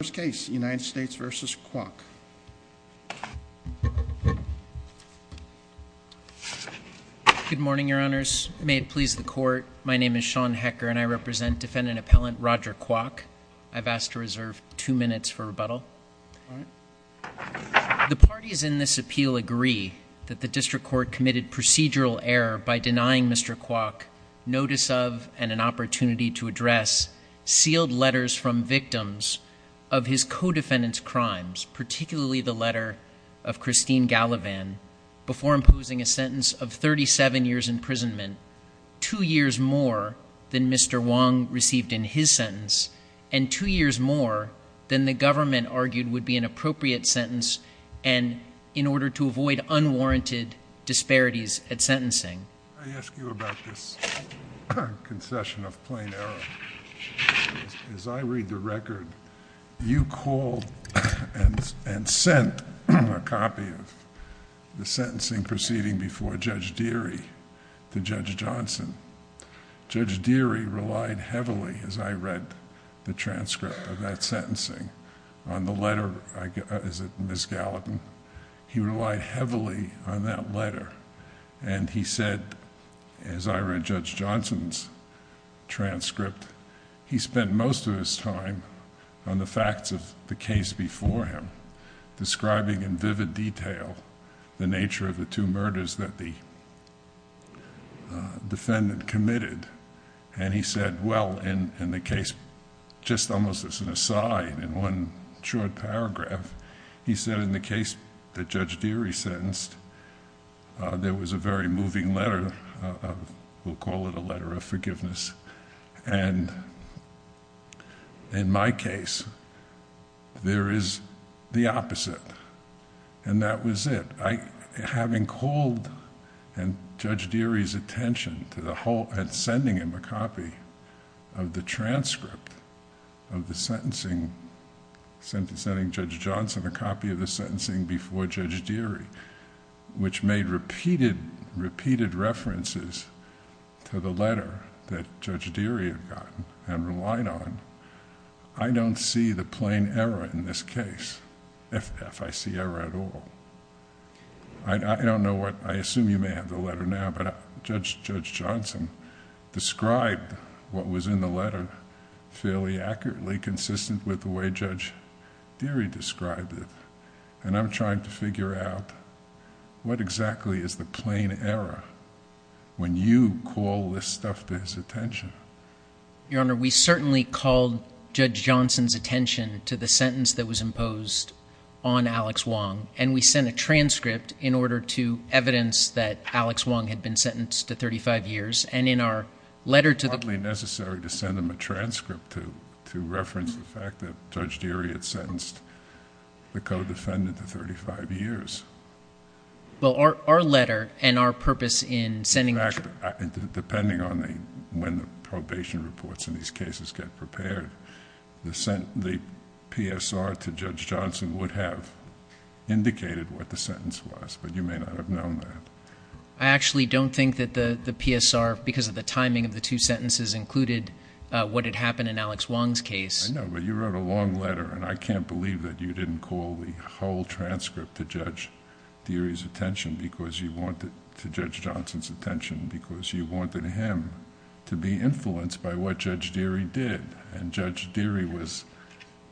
First case, United States v. Kwok Good morning, your honors. May it please the court, my name is Sean Hecker and I represent defendant appellant Roger Kwok. I've asked to reserve two minutes for rebuttal. The parties in this appeal agree that the district court committed procedural error by denying Mr. Kwok notice of and an opportunity to address sealed letters from of his co-defendant's crimes, particularly the letter of Christine Gallivan, before imposing a sentence of 37 years imprisonment, two years more than Mr. Wong received in his sentence and two years more than the government argued would be an appropriate sentence and in order to avoid unwarranted disparities at sentencing. I ask you about this concession of plain error. As I read the record, you called and sent a copy of the sentencing proceeding before Judge Deary to Judge Johnson. Judge Deary relied heavily, as I read the transcript of that sentencing, on the letter... is it Ms. Gallivan? He relied heavily on that letter and he said, as I read Judge Johnson's transcript, he spent most of his time on the facts of the case before him, describing in vivid detail the nature of the two murders that the defendant committed and he said, well, in the case... just almost as an aside, in one short paragraph, he said in the case that Judge Deary sentenced, there was a very moving letter, we'll call it a letter of forgiveness and in my case, there is the opposite and that was it. Having called and Judge Deary's attention to the whole... and sending him a copy of the transcript of the sentencing before Judge Johnson, a copy of the sentencing before Judge Deary, which made repeated references to the letter that Judge Deary had gotten and relied on, I don't see the plain error in this case, if I see error at all. I don't know what... I assume you may have the letter now, but Judge Johnson described what was in the letter fairly accurately consistent with the way Judge Deary described it and I'm trying to figure out what exactly is the plain error when you call this stuff to his attention. Your Honor, we certainly called Judge Johnson's attention to the sentence that was imposed on Alex Wong and we sent a transcript in order to evidence that Alex Wong had been sentenced to 35 years and in our letter to... Probably necessary to send them a transcript to reference the fact that Judge Deary had sentenced the co-defendant to 35 years. Well, our letter and our purpose in sending... In fact, depending on when the probation reports in these cases get prepared, the PSR to Judge Johnson would have indicated what the sentence was, but you may not have known that. I actually don't think that the PSR, because of the timing of the two sentences, included what had happened in Alex Wong's case. I know, but you wrote a long letter and I can't believe that you didn't call the whole transcript to Judge Johnson's attention because you wanted him to be influenced by what Judge Deary did. Judge Deary was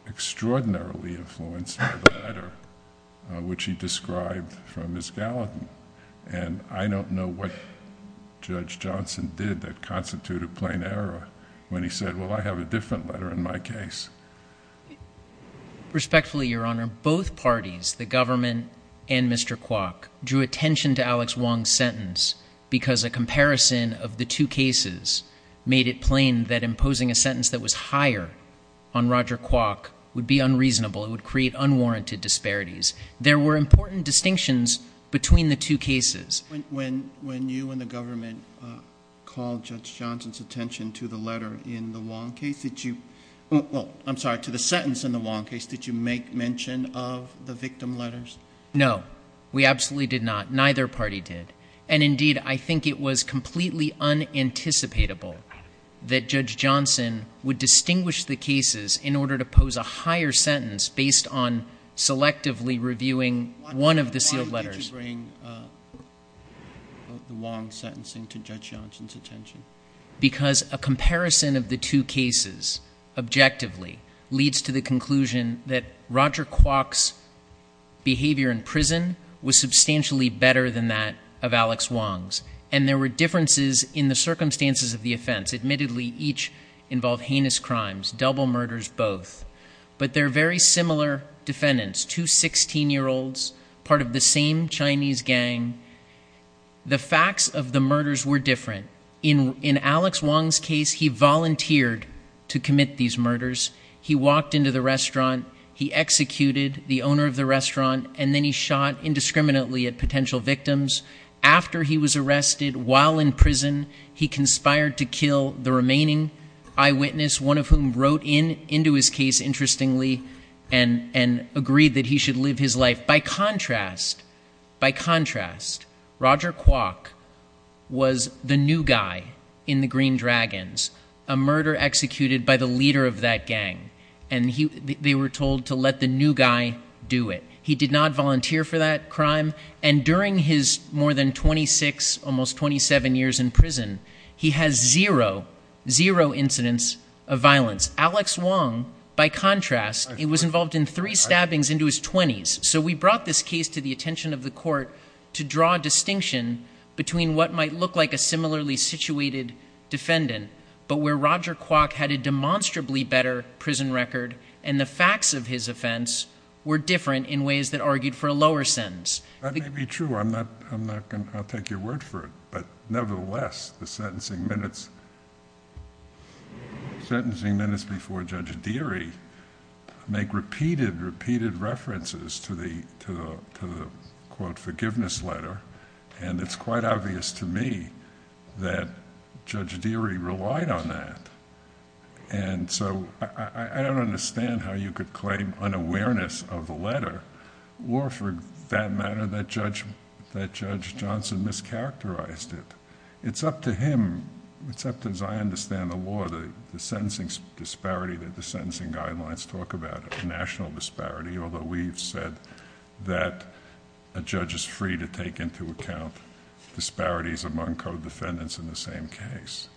extraordinarily influenced by the letter which he sent and I don't know what Judge Johnson did that constituted plain error when he said, well, I have a different letter in my case. Respectfully, Your Honor, both parties, the government and Mr. Kwok, drew attention to Alex Wong's sentence because a comparison of the two cases made it plain that imposing a sentence that was higher on Roger Kwok would be unreasonable. It would create unwarranted disparities. There were important distinctions between the two cases. When you and the government called Judge Johnson's attention to the letter in the Wong case, did you, well, I'm sorry, to the sentence in the Wong case, did you make mention of the victim letters? No, we absolutely did not. Neither party did. And indeed, I think it was completely unanticipatable that Judge Johnson would be reviewing one of the sealed letters. Why would you bring the Wong sentencing to Judge Johnson's attention? Because a comparison of the two cases objectively leads to the conclusion that Roger Kwok's behavior in prison was substantially better than that of Alex Wong's. And there were differences in the circumstances of the offense. Admittedly, each involved heinous crimes, double murders both. But they're very similar defendants, two 16-year-olds, part of the same Chinese gang. The facts of the murders were different. In Alex Wong's case, he volunteered to commit these murders. He walked into the restaurant, he executed the owner of the restaurant, and then he shot indiscriminately at potential victims. After he was arrested while in prison, he conspired to kill the remaining eyewitness, one of whom wrote into his case, interestingly, and agreed that he should live his life. By contrast, by contrast, Roger Kwok was the new guy in the Green Dragons, a murder executed by the leader of that gang. And they were told to let the new guy do it. He did not volunteer for that crime. And during his more than 26, almost 27 years in prison, he has zero, zero incidents of violence. Alex Wong, by contrast, he was involved in three stabbings into his 20s. So we brought this case to the attention of the court to draw a distinction between what might look like a similarly situated defendant, but where Roger Kwok had a demonstrably better prison record and the facts of his offense were different in ways that argued for a lower sentence. That may be true. I'm not, I'm not going to, I'll take your word for it, but nevertheless, the sentencing minutes, sentencing minutes before Judge Deary make repeated, repeated references to the, to the, to the quote, forgiveness letter. And it's quite obvious to me that Judge Deary relied on that. And so I don't understand how you could claim an awareness of the letter or for that matter, that Judge, that Judge Johnson mischaracterized it. It's up to him. It's up to, as I understand the law, the sentencing disparity that the sentencing guidelines talk about, national disparity. Although we've said that a judge is free to take into account disparities among co-defendants in the same case.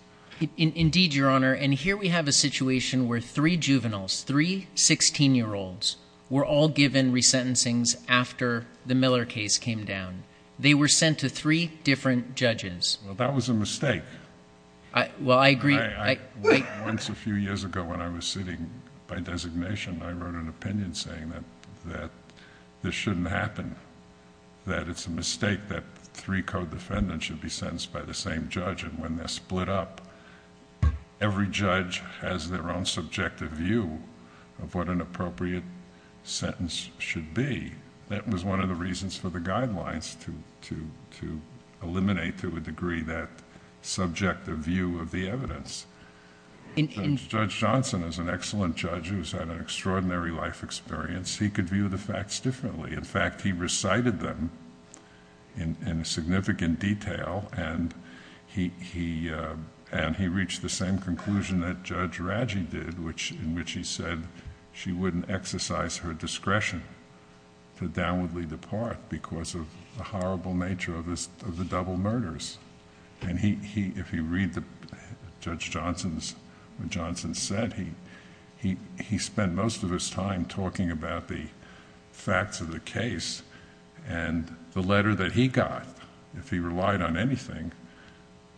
Indeed, Your Honor. And here we have a situation where three juveniles, three 16 year olds were all given resentencings after the Miller case came down. They were sent to three different judges. Well, that was a mistake. I, well, I agree. I, I, once a few years ago when I was sitting by designation, I wrote an opinion saying that, that this shouldn't happen. That it's a mistake that three co-defendants should be sentenced by the same judge. And when they're split up, every judge has their own subjective view of what an appropriate sentence should be. That was one of the reasons for the guidelines to, to, to eliminate to a degree that subjective view of the evidence. Judge Johnson is an excellent judge who's had an extraordinary life experience. He could view the facts differently. In fact, he recited them in significant detail and he, he, uh, and he reached the same conclusion that Judge Raggi did, which, in which he said she wouldn't exercise her discretion to downwardly depart because of the horrible nature of this, of the double murders. And he, he, if you read the Judge Johnson's, what Johnson said, he, he, he spent most of his time talking about the facts of the case and the letter that he got, if he relied on anything,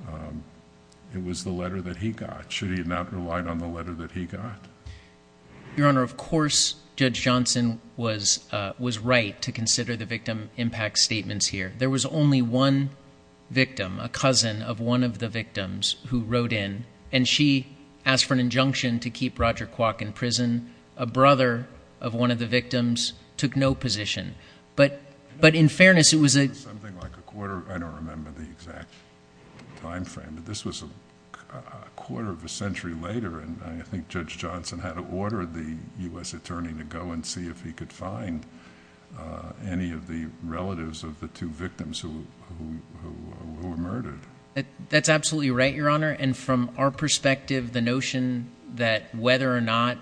um, it was the letter that he got. Should he have not relied on the letter that he got? Your Honor, of course, Judge Johnson was, uh, was right to consider the victim impact statements here. There was only one victim, a cousin of one of the victims who wrote in and she asked for an injunction to keep Roger Kwok in prison. A brother of one of the victims took no position, but, but in fairness, it was a something like a quarter, I don't remember the exact timeframe, but this was a quarter of a century later. And I think Judge Johnson had to order the U.S. attorney to go and see if he could find, uh, any of the relatives of the two victims who, who, who were murdered. That's absolutely right, Your Honor. And from our perspective, the notion that whether or not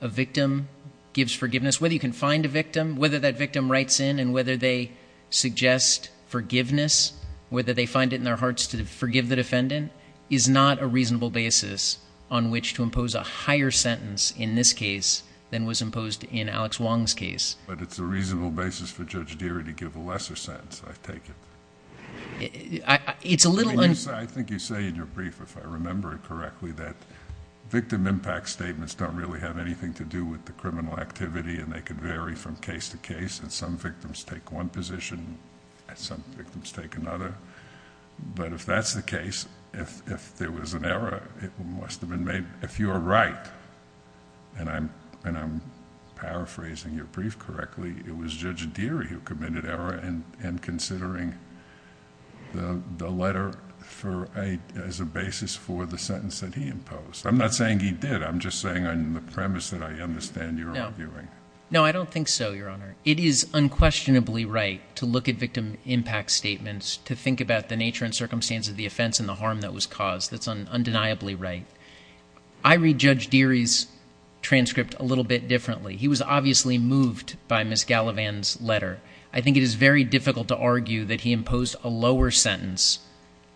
a victim gives forgiveness, whether you can find a victim, whether that victim writes in and whether they suggest forgiveness, whether they find it in their hearts to forgive the defendant is not a reasonable basis on which to impose a higher sentence in this case than was imposed in Alex Wong's case. But it's a reasonable basis for Judge Deery to give a lesser sentence. I take it. I, it's a little. I think you say in your brief, if I remember it correctly, that victim impact statements don't really have anything to do with the criminal activity and they could vary from case to case and some victims take one position and some victims take another, but if that's the case, if there was an error, it must have been made, if you are right, and I'm, and I'm paraphrasing your brief correctly, it was Judge Deery who committed error in considering the, the letter for a, as a basis for the sentence that he imposed. I'm not saying he did. I'm just saying on the premise that I understand you're arguing. No, I don't think so, Your Honor. It is unquestionably right to look at victim impact statements, to think about the nature and circumstance of the offense and the harm that was caused. That's undeniably right. I read Judge Deery's transcript a little bit differently. He was obviously moved by Ms. Gallivan's letter. I think it is very difficult to argue that he imposed a lower sentence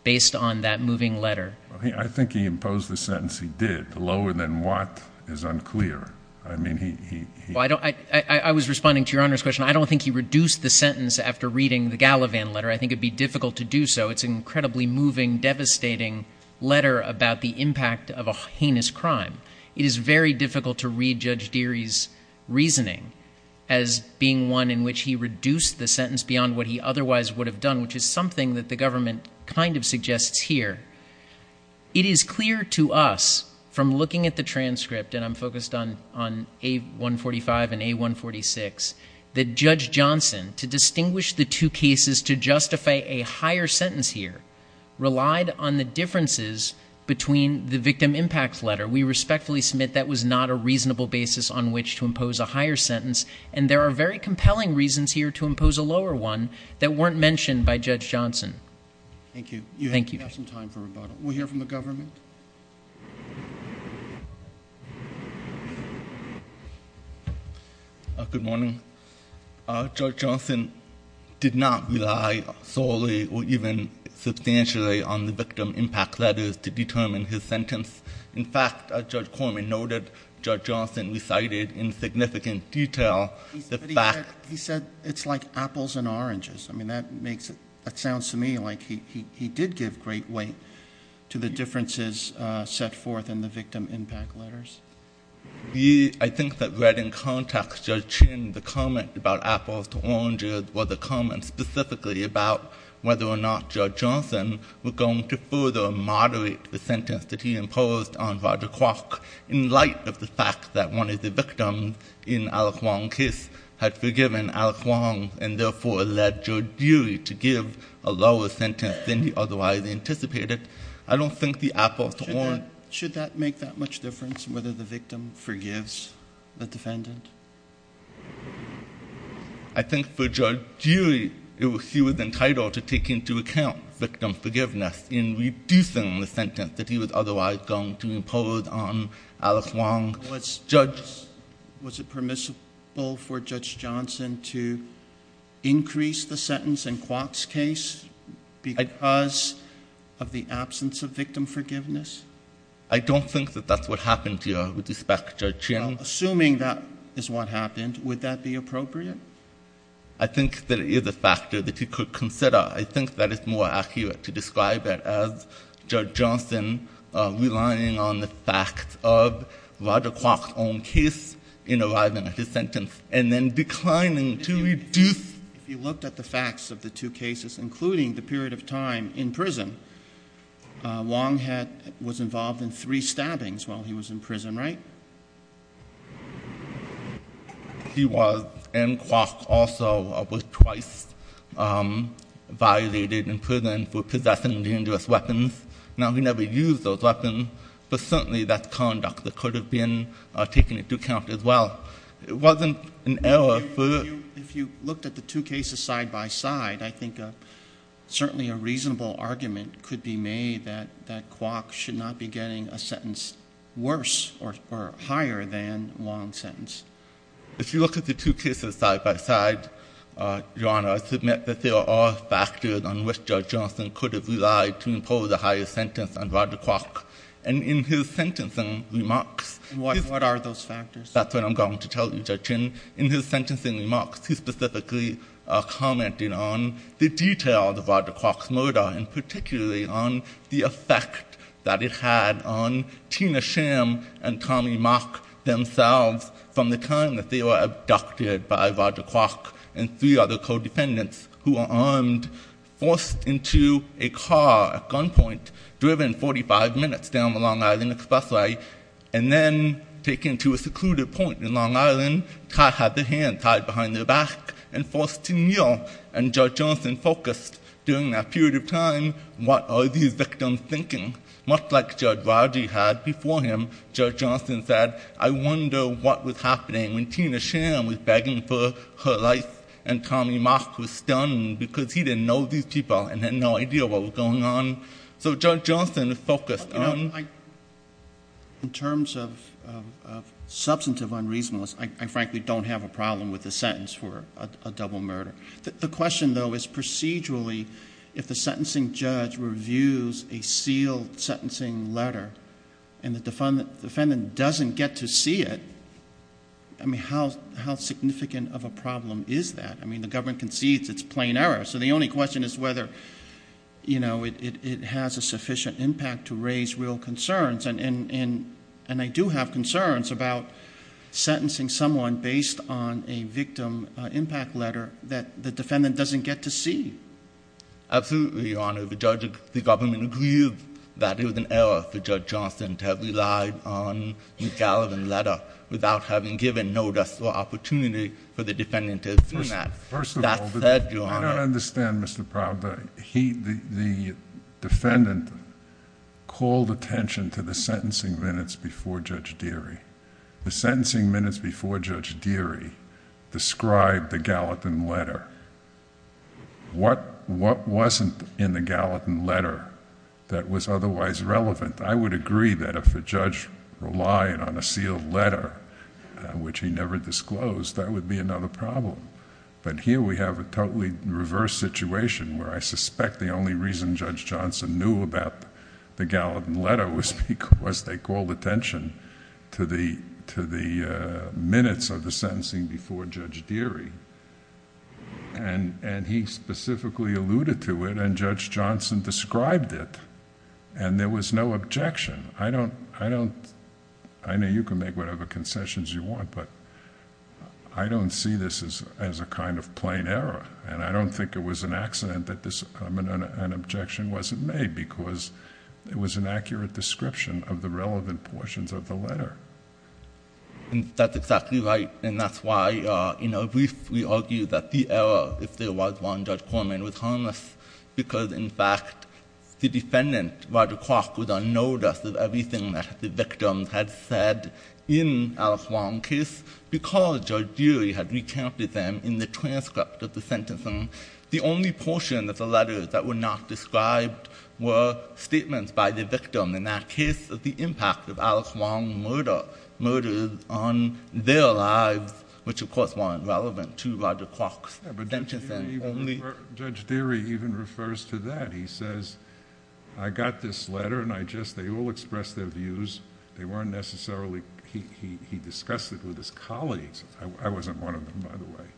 based on that moving letter. I think he imposed the sentence. He did lower than what is unclear. I mean, he, he, he, Well, I don't, I, I was responding to Your Honor's question. I don't think he reduced the sentence after reading the Gallivan letter. I think it'd be difficult to do so. It's an incredibly moving, devastating letter about the impact of a heinous crime. It is very difficult to read Judge Deery's reasoning as being one in which he reduced the sentence beyond what he otherwise would have done, which is something that the government kind of suggests here, it is clear to us from looking at the transcript, and I'm focused on, on A145 and A146, that Judge Johnson, to distinguish the two cases, to justify a higher sentence here, relied on the differences between the victim impact letter. We respectfully submit that was not a reasonable basis on which to impose a higher sentence, and there are very compelling reasons here to impose a lower one that weren't mentioned by Judge Johnson. Thank you. You have some time for rebuttal. We'll hear from the government. Uh, good morning. Uh, Judge Johnson did not rely solely or even substantially on the victim impact letters to determine his sentence. In fact, uh, Judge Corman noted Judge Johnson recited in significant detail, the fact, he said it's like apples and oranges. I mean, that makes it, that sounds to me like he, he, he did give great weight to the differences, uh, set forth in the victim impact letters. I think that read in context, Judge Chin, the comment about apples to oranges was a comment specifically about whether or not Judge Johnson was going to further moderate the sentence that he imposed on Roger Clark in light of the fact that one of the victims in Alec Wong's case had forgiven Alec Wong and therefore led Judge Dewey to give a lower sentence than he otherwise anticipated. I don't think the apples should that make that much difference in whether the victim forgives the defendant? I think for Judge Dewey, it was, he was entitled to take into account victim forgiveness in reducing the sentence that he was otherwise going to impose on Alec Wong. Was Judge, was it permissible for Judge Johnson to increase the sentence in absence of victim forgiveness? I don't think that that's what happened here with respect to Judge Chin. Assuming that is what happened, would that be appropriate? I think that it is a factor that he could consider. I think that it's more accurate to describe it as Judge Johnson, uh, relying on the facts of Roger Clark's own case in arriving at his sentence and then declining to reduce, if you looked at the facts of the two cases, including the period of time in prison, uh, Wong had, was involved in three stabbings while he was in prison, right? He was, and Clark also was twice, um, violated in prison for possessing dangerous weapons. Now he never used those weapons, but certainly that's conduct that could have been taken into account as well. It wasn't an error. If you looked at the two cases side by side, I think, uh, certainly a reasonable argument could be made that, that Clark should not be getting a sentence worse or, or higher than Wong's sentence. If you look at the two cases side by side, uh, Your Honor, I submit that there are factors on which Judge Johnson could have relied to impose a higher sentence on Roger Clark and in his sentencing remarks, what are those factors? That's what I'm going to tell you, Judge Chin. In his sentencing remarks, he specifically, uh, commented on the details of Roger Clark's murder and particularly on the effect that it had on Tina sham and Tommy mock themselves from the time that they were abducted by Roger Clark and three other codependents who are armed forced into a car at gunpoint driven 45 minutes down the Long Island expressway. And then taken to a secluded point in Long Island, Todd had the hand tied behind their back and forced to kneel. And judge Johnson focused during that period of time. What are these victims thinking? Much like judge Rodney had before him, judge Johnson said, I wonder what was happening when Tina sham was begging for her life and Tommy mock was stunned because he didn't know these people and had no idea what was going on. So judge Johnson focused. In terms of, of, of substantive unreasonable, I frankly don't have a problem with the sentence for a double murder. The question though, is procedurally, if the sentencing judge reviews a sealed sentencing letter and the defendant doesn't get to see it, I mean, how, how significant of a problem is that? I mean, the government concedes it's plain error. So the only question is whether, you know, it, it, it has a sufficient impact to raise real concerns. And, and, and, and I do have concerns about sentencing someone based on a victim impact letter that the defendant doesn't get to see. Absolutely. Your Honor, the judge, the government agreed that it was an error for judge Johnson to have relied on the Gallivan letter without having given notice or opportunity for the defendant to assume that. First of all, I don't understand Mr. Prowder, he, the, the defendant called attention to the sentencing minutes before judge Deary, the sentencing minutes before judge Deary described the Gallivan letter, what, what wasn't in the Gallivan letter that was otherwise relevant, I would agree that if a judge relied on a sealed letter, which he never disclosed, that would be another problem. But here we have a totally reverse situation where I suspect the only reason judge Johnson knew about the Gallivan letter was because they called attention to the, to the, uh, minutes of the sentencing before judge Deary. And, and he specifically alluded to it and judge Johnson described it and there was no objection. I don't, I don't, I know you can make whatever concessions you want, but I don't see this as, as a kind of plain error and I don't think it was an accident that this, I mean, an objection wasn't made because it was an accurate description of the relevant portions of the letter. And that's exactly right. And that's why, uh, you know, we, we argue that the error, if there was one, judge Corman was harmless because in fact, the defendant, Roger Crock, was on notice of everything that the victim had said in Alex Wong case because judge Deary had recounted them in the transcript of the sentence. And the only portion that the letters that were not described were statements by the victim in that case of the impact of Alex Wong murder, murders on their lives, which of course weren't relevant to Roger Crock's sentencing. Judge Deary even refers to that. He says, I got this letter and I just, they all expressed their views. They weren't necessarily, he, he, he discussed it with his colleagues. I wasn't one of them, by the way,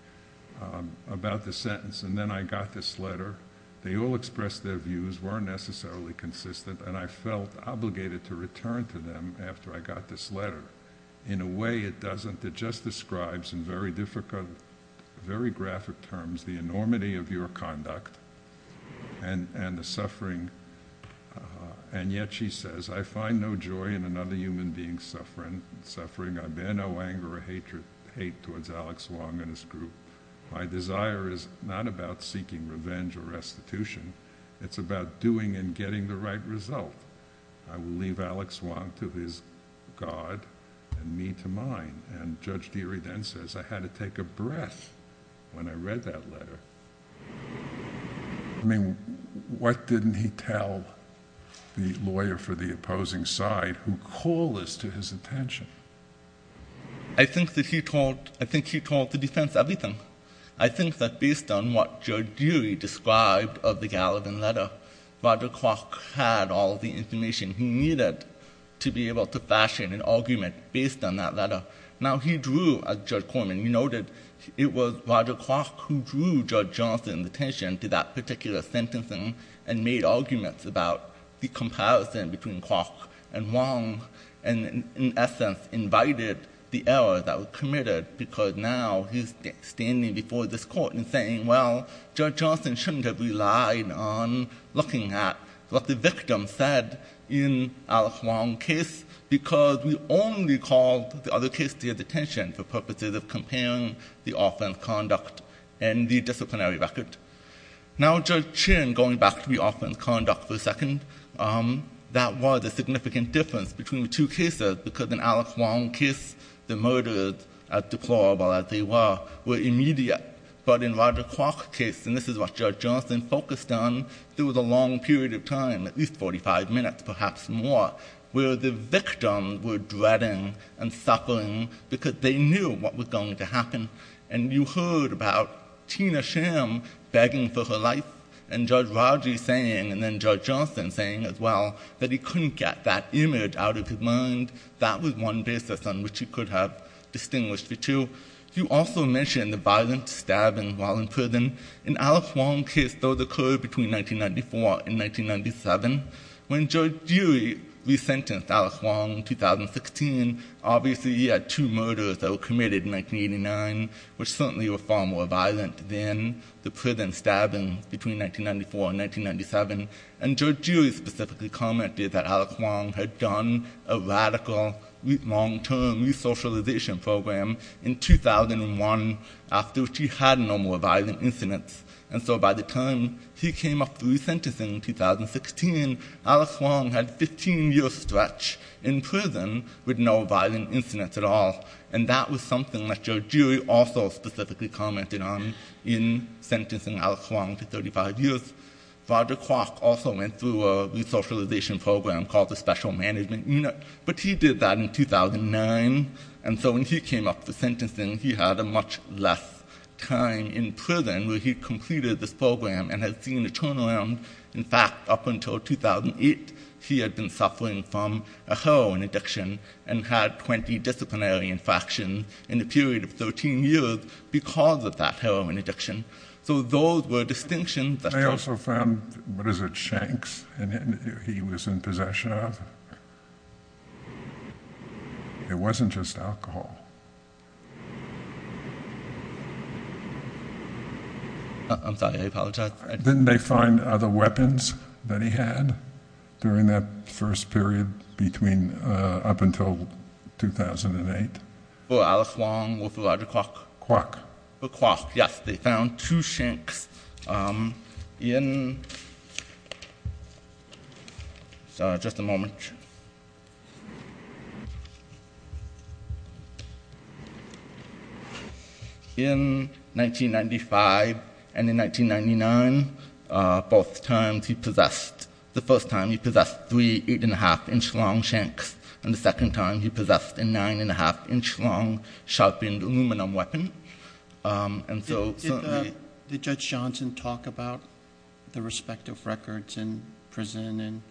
um, about the sentence. And then I got this letter. They all expressed their views, weren't necessarily consistent. And I felt obligated to return to them after I got this letter. In a way it doesn't, it just describes in very difficult, very graphic terms, the enormity of your conduct and, and the suffering. Uh, and yet she says, I find no joy in another human being suffering, suffering. I bear no anger or hatred, hate towards Alex Wong and his group. My desire is not about seeking revenge or restitution. It's about doing and getting the right result. I will leave Alex Wong to his God and me to mine. And Judge Deary then says, I had to take a breath when I read that letter. I mean, what didn't he tell the lawyer for the opposing side who call this to his attention? I think that he told, I think he told the defense everything. I think that based on what Judge Deary described of the Gallivan letter, Roger Crock had all the information he needed to be able to fashion an argument based on that letter. Now he drew, as Judge Corman noted, it was Roger Crock who drew Judge Johnson's attention to that particular sentencing and made arguments about the comparison between Crock and Wong. And in essence, invited the error that was committed because now he's standing before this court and saying, well, Judge Johnson shouldn't have relied on looking at what the victim said in Alex Wong case because we only called the other case to his attention for purposes of comparing the offense conduct and the disciplinary record. Now Judge Chin, going back to the offense conduct for a second, that was a significant difference between the two cases because in Alex Wong case, the murders, as deplorable as they were, were immediate, but in Roger Crock case, and this is what Judge Johnson focused on, there was a long period of time, at least 45 minutes, perhaps more, where the victim were dreading and suffering because they knew what was going to happen. And you heard about Tina Sham begging for her life and Judge Roger saying, and then Judge Johnson saying as well, that he couldn't get that image out of his mind, that was one basis on which he could have distinguished the two. You also mentioned the violent stabbing while in prison. In Alex Wong case, those occurred between 1994 and 1997. When Judge Dewey re-sentenced Alex Wong in 2016, obviously he had two murders that were committed in 1989, which certainly were far more violent than the prison stabbing between 1994 and 1997. And Judge Dewey specifically commented that Alex Wong had done a radical long term re-socialization program in 2001 after she had no more violent incidents. And so by the time he came up re-sentencing in 2016, Alex Wong had 15 years stretch in prison with no violent incidents at all. And that was something that Judge Dewey also specifically commented on in sentencing Alex Wong to 35 years. Roger Kwok also went through a re-socialization program called the Special Management Unit, but he did that in 2009. And so when he came up for sentencing, he had a much less time in prison where he completed this program and had seen the turnaround. In fact, up until 2008, he had been suffering from a heroin addiction and had 20 disciplinary infractions in the period of 13 years because of that heroin addiction. So those were distinctions. They also found, what is it, shanks he was in possession of? It wasn't just alcohol. I'm sorry, I apologize. Didn't they find other weapons that he had during that first period between up until 2008? For Alex Wong, for Roger Kwok. Kwok. For Kwok, yes. They found two shanks in, just a moment, in 1995 and in 1999, both times he possessed, the first time he possessed three eight and a half inch long shanks. And the second time he possessed a nine and a half inch long sharpened aluminum weapon. Did Judge Johnson talk about the respective records in prison and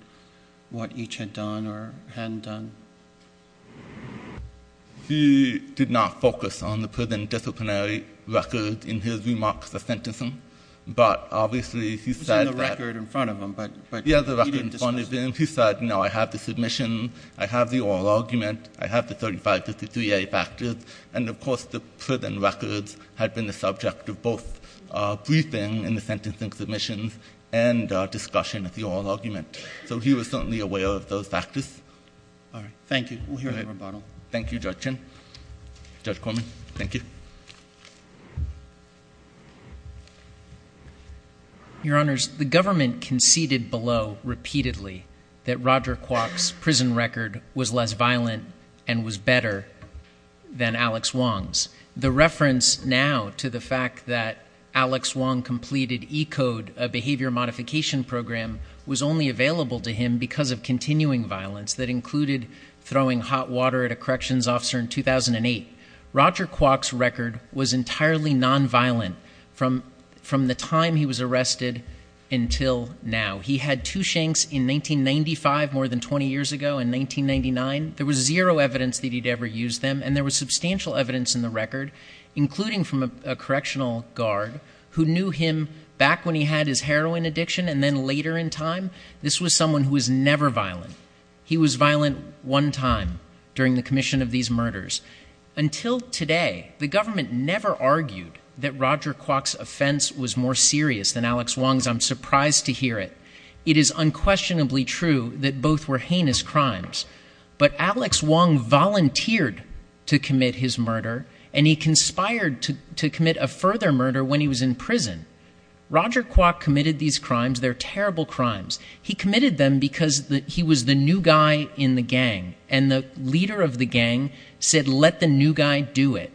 what each had done or hadn't done? He did not focus on the prison disciplinary record in his remarks of sentencing, but obviously he said, no, I have the submission. I have the oral argument. I have the 3553A factors. And of course the prison records had been the subject of both briefing in the sentencing submissions and discussion of the oral argument. So he was certainly aware of those factors. All right. Thank you. Thank you, Judge Chin. Judge Corman. Thank you. Your honors, the government conceded below repeatedly that Roger Kwok's prison record was less violent and was better than Alex Wong's. The reference now to the fact that Alex Wong completed ECODE, a behavior modification program, was only available to him because of continuing violence that included throwing hot water at a corrections officer in 2008. Roger Kwok's record was entirely nonviolent from the time he was arrested until now. He had two shanks in 1995, more than 20 years ago in 1999. There was zero evidence that he'd ever used them. And there was substantial evidence in the record, including from a correctional guard who knew him back when he had his heroin addiction. And then later in time, this was someone who was never violent. He was violent one time during the commission of these murders. Until today, the government never argued that Roger Kwok's offense was more serious than Alex Wong's. I'm surprised to hear it. It is unquestionably true that both were heinous crimes. But Alex Wong volunteered to commit his murder and he conspired to commit a further murder when he was in prison. Roger Kwok committed these crimes. They're terrible crimes. He committed them because he was the new guy in the gang. And the leader of the gang said, let the new guy do it.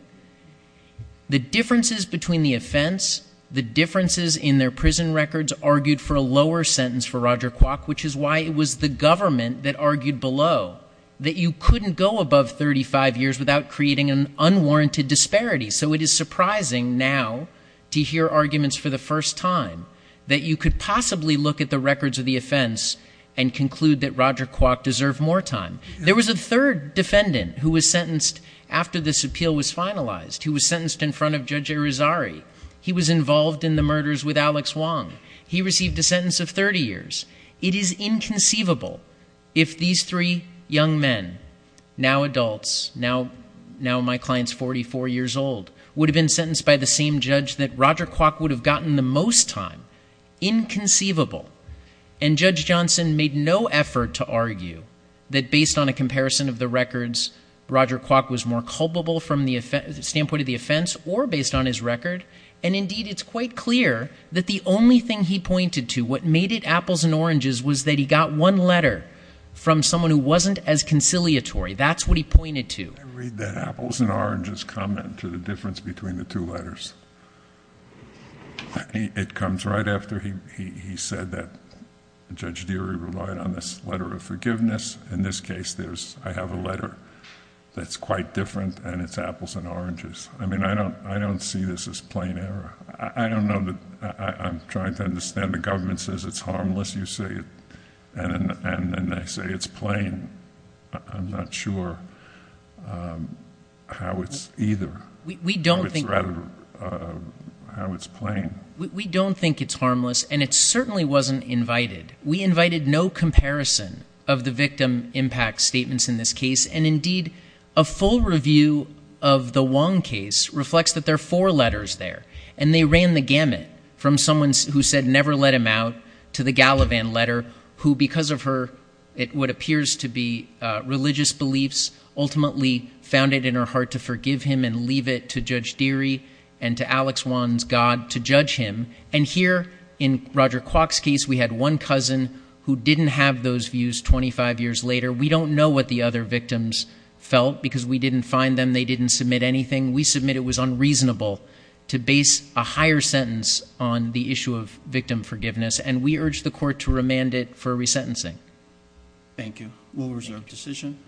The differences between the offense, the differences in their prison records argued for a lower sentence for Roger Kwok, which is why it was the government that argued below that you couldn't go above 35 years without creating an unwarranted disparity. So it is surprising now to hear arguments for the first time that you could possibly look at the records of the offense and conclude that Roger Kwok deserved more time. There was a third defendant who was sentenced after this appeal was finalized, who was sentenced in front of Judge Arizari. He was involved in the murders with Alex Wong. He received a sentence of 30 years. It is inconceivable if these three young men, now adults, now, now my client's 44 years old, would have been sentenced by the same judge that Roger Kwok would have gotten the most time. Inconceivable. And Judge Johnson made no effort to argue that based on a comparison of the records, Roger Kwok was more culpable from the standpoint of the offense or based on his record. And indeed, it's quite clear that the only thing he pointed to, what made it apples and oranges, was that he got one letter from someone who wasn't as conciliatory. That's what he pointed to. I read that apples and oranges comment to the difference between the two letters. It comes right after he said that Judge Deary relied on this letter of forgiveness. In this case, I have a letter that's quite different and it's apples and oranges. I mean, I don't, I don't see this as plain error. I don't know that, I'm trying to understand the government says it's harmless, you say, and then they say it's plain. I'm not sure how it's either, how it's rather, how it's plain. We don't think it's harmless and it certainly wasn't invited. We invited no comparison of the victim impact statements in this case. And indeed, a full review of the Wong case reflects that there are four letters there and they ran the gamut from someone who said never let him out to the Gallivan letter, who, because of her, it would appears to be a religious beliefs, ultimately found it in her heart to forgive him and leave it to Judge Deary and to Alex Wong's God to judge him. And here in Roger Kwok's case, we had one cousin who didn't have those views 25 years later. We don't know what the other victims felt because we didn't find them. They didn't submit anything. We submit it was unreasonable to base a higher sentence on the issue of victim forgiveness. And we urge the court to remand it for resentencing. Thank you. We'll reserve decision.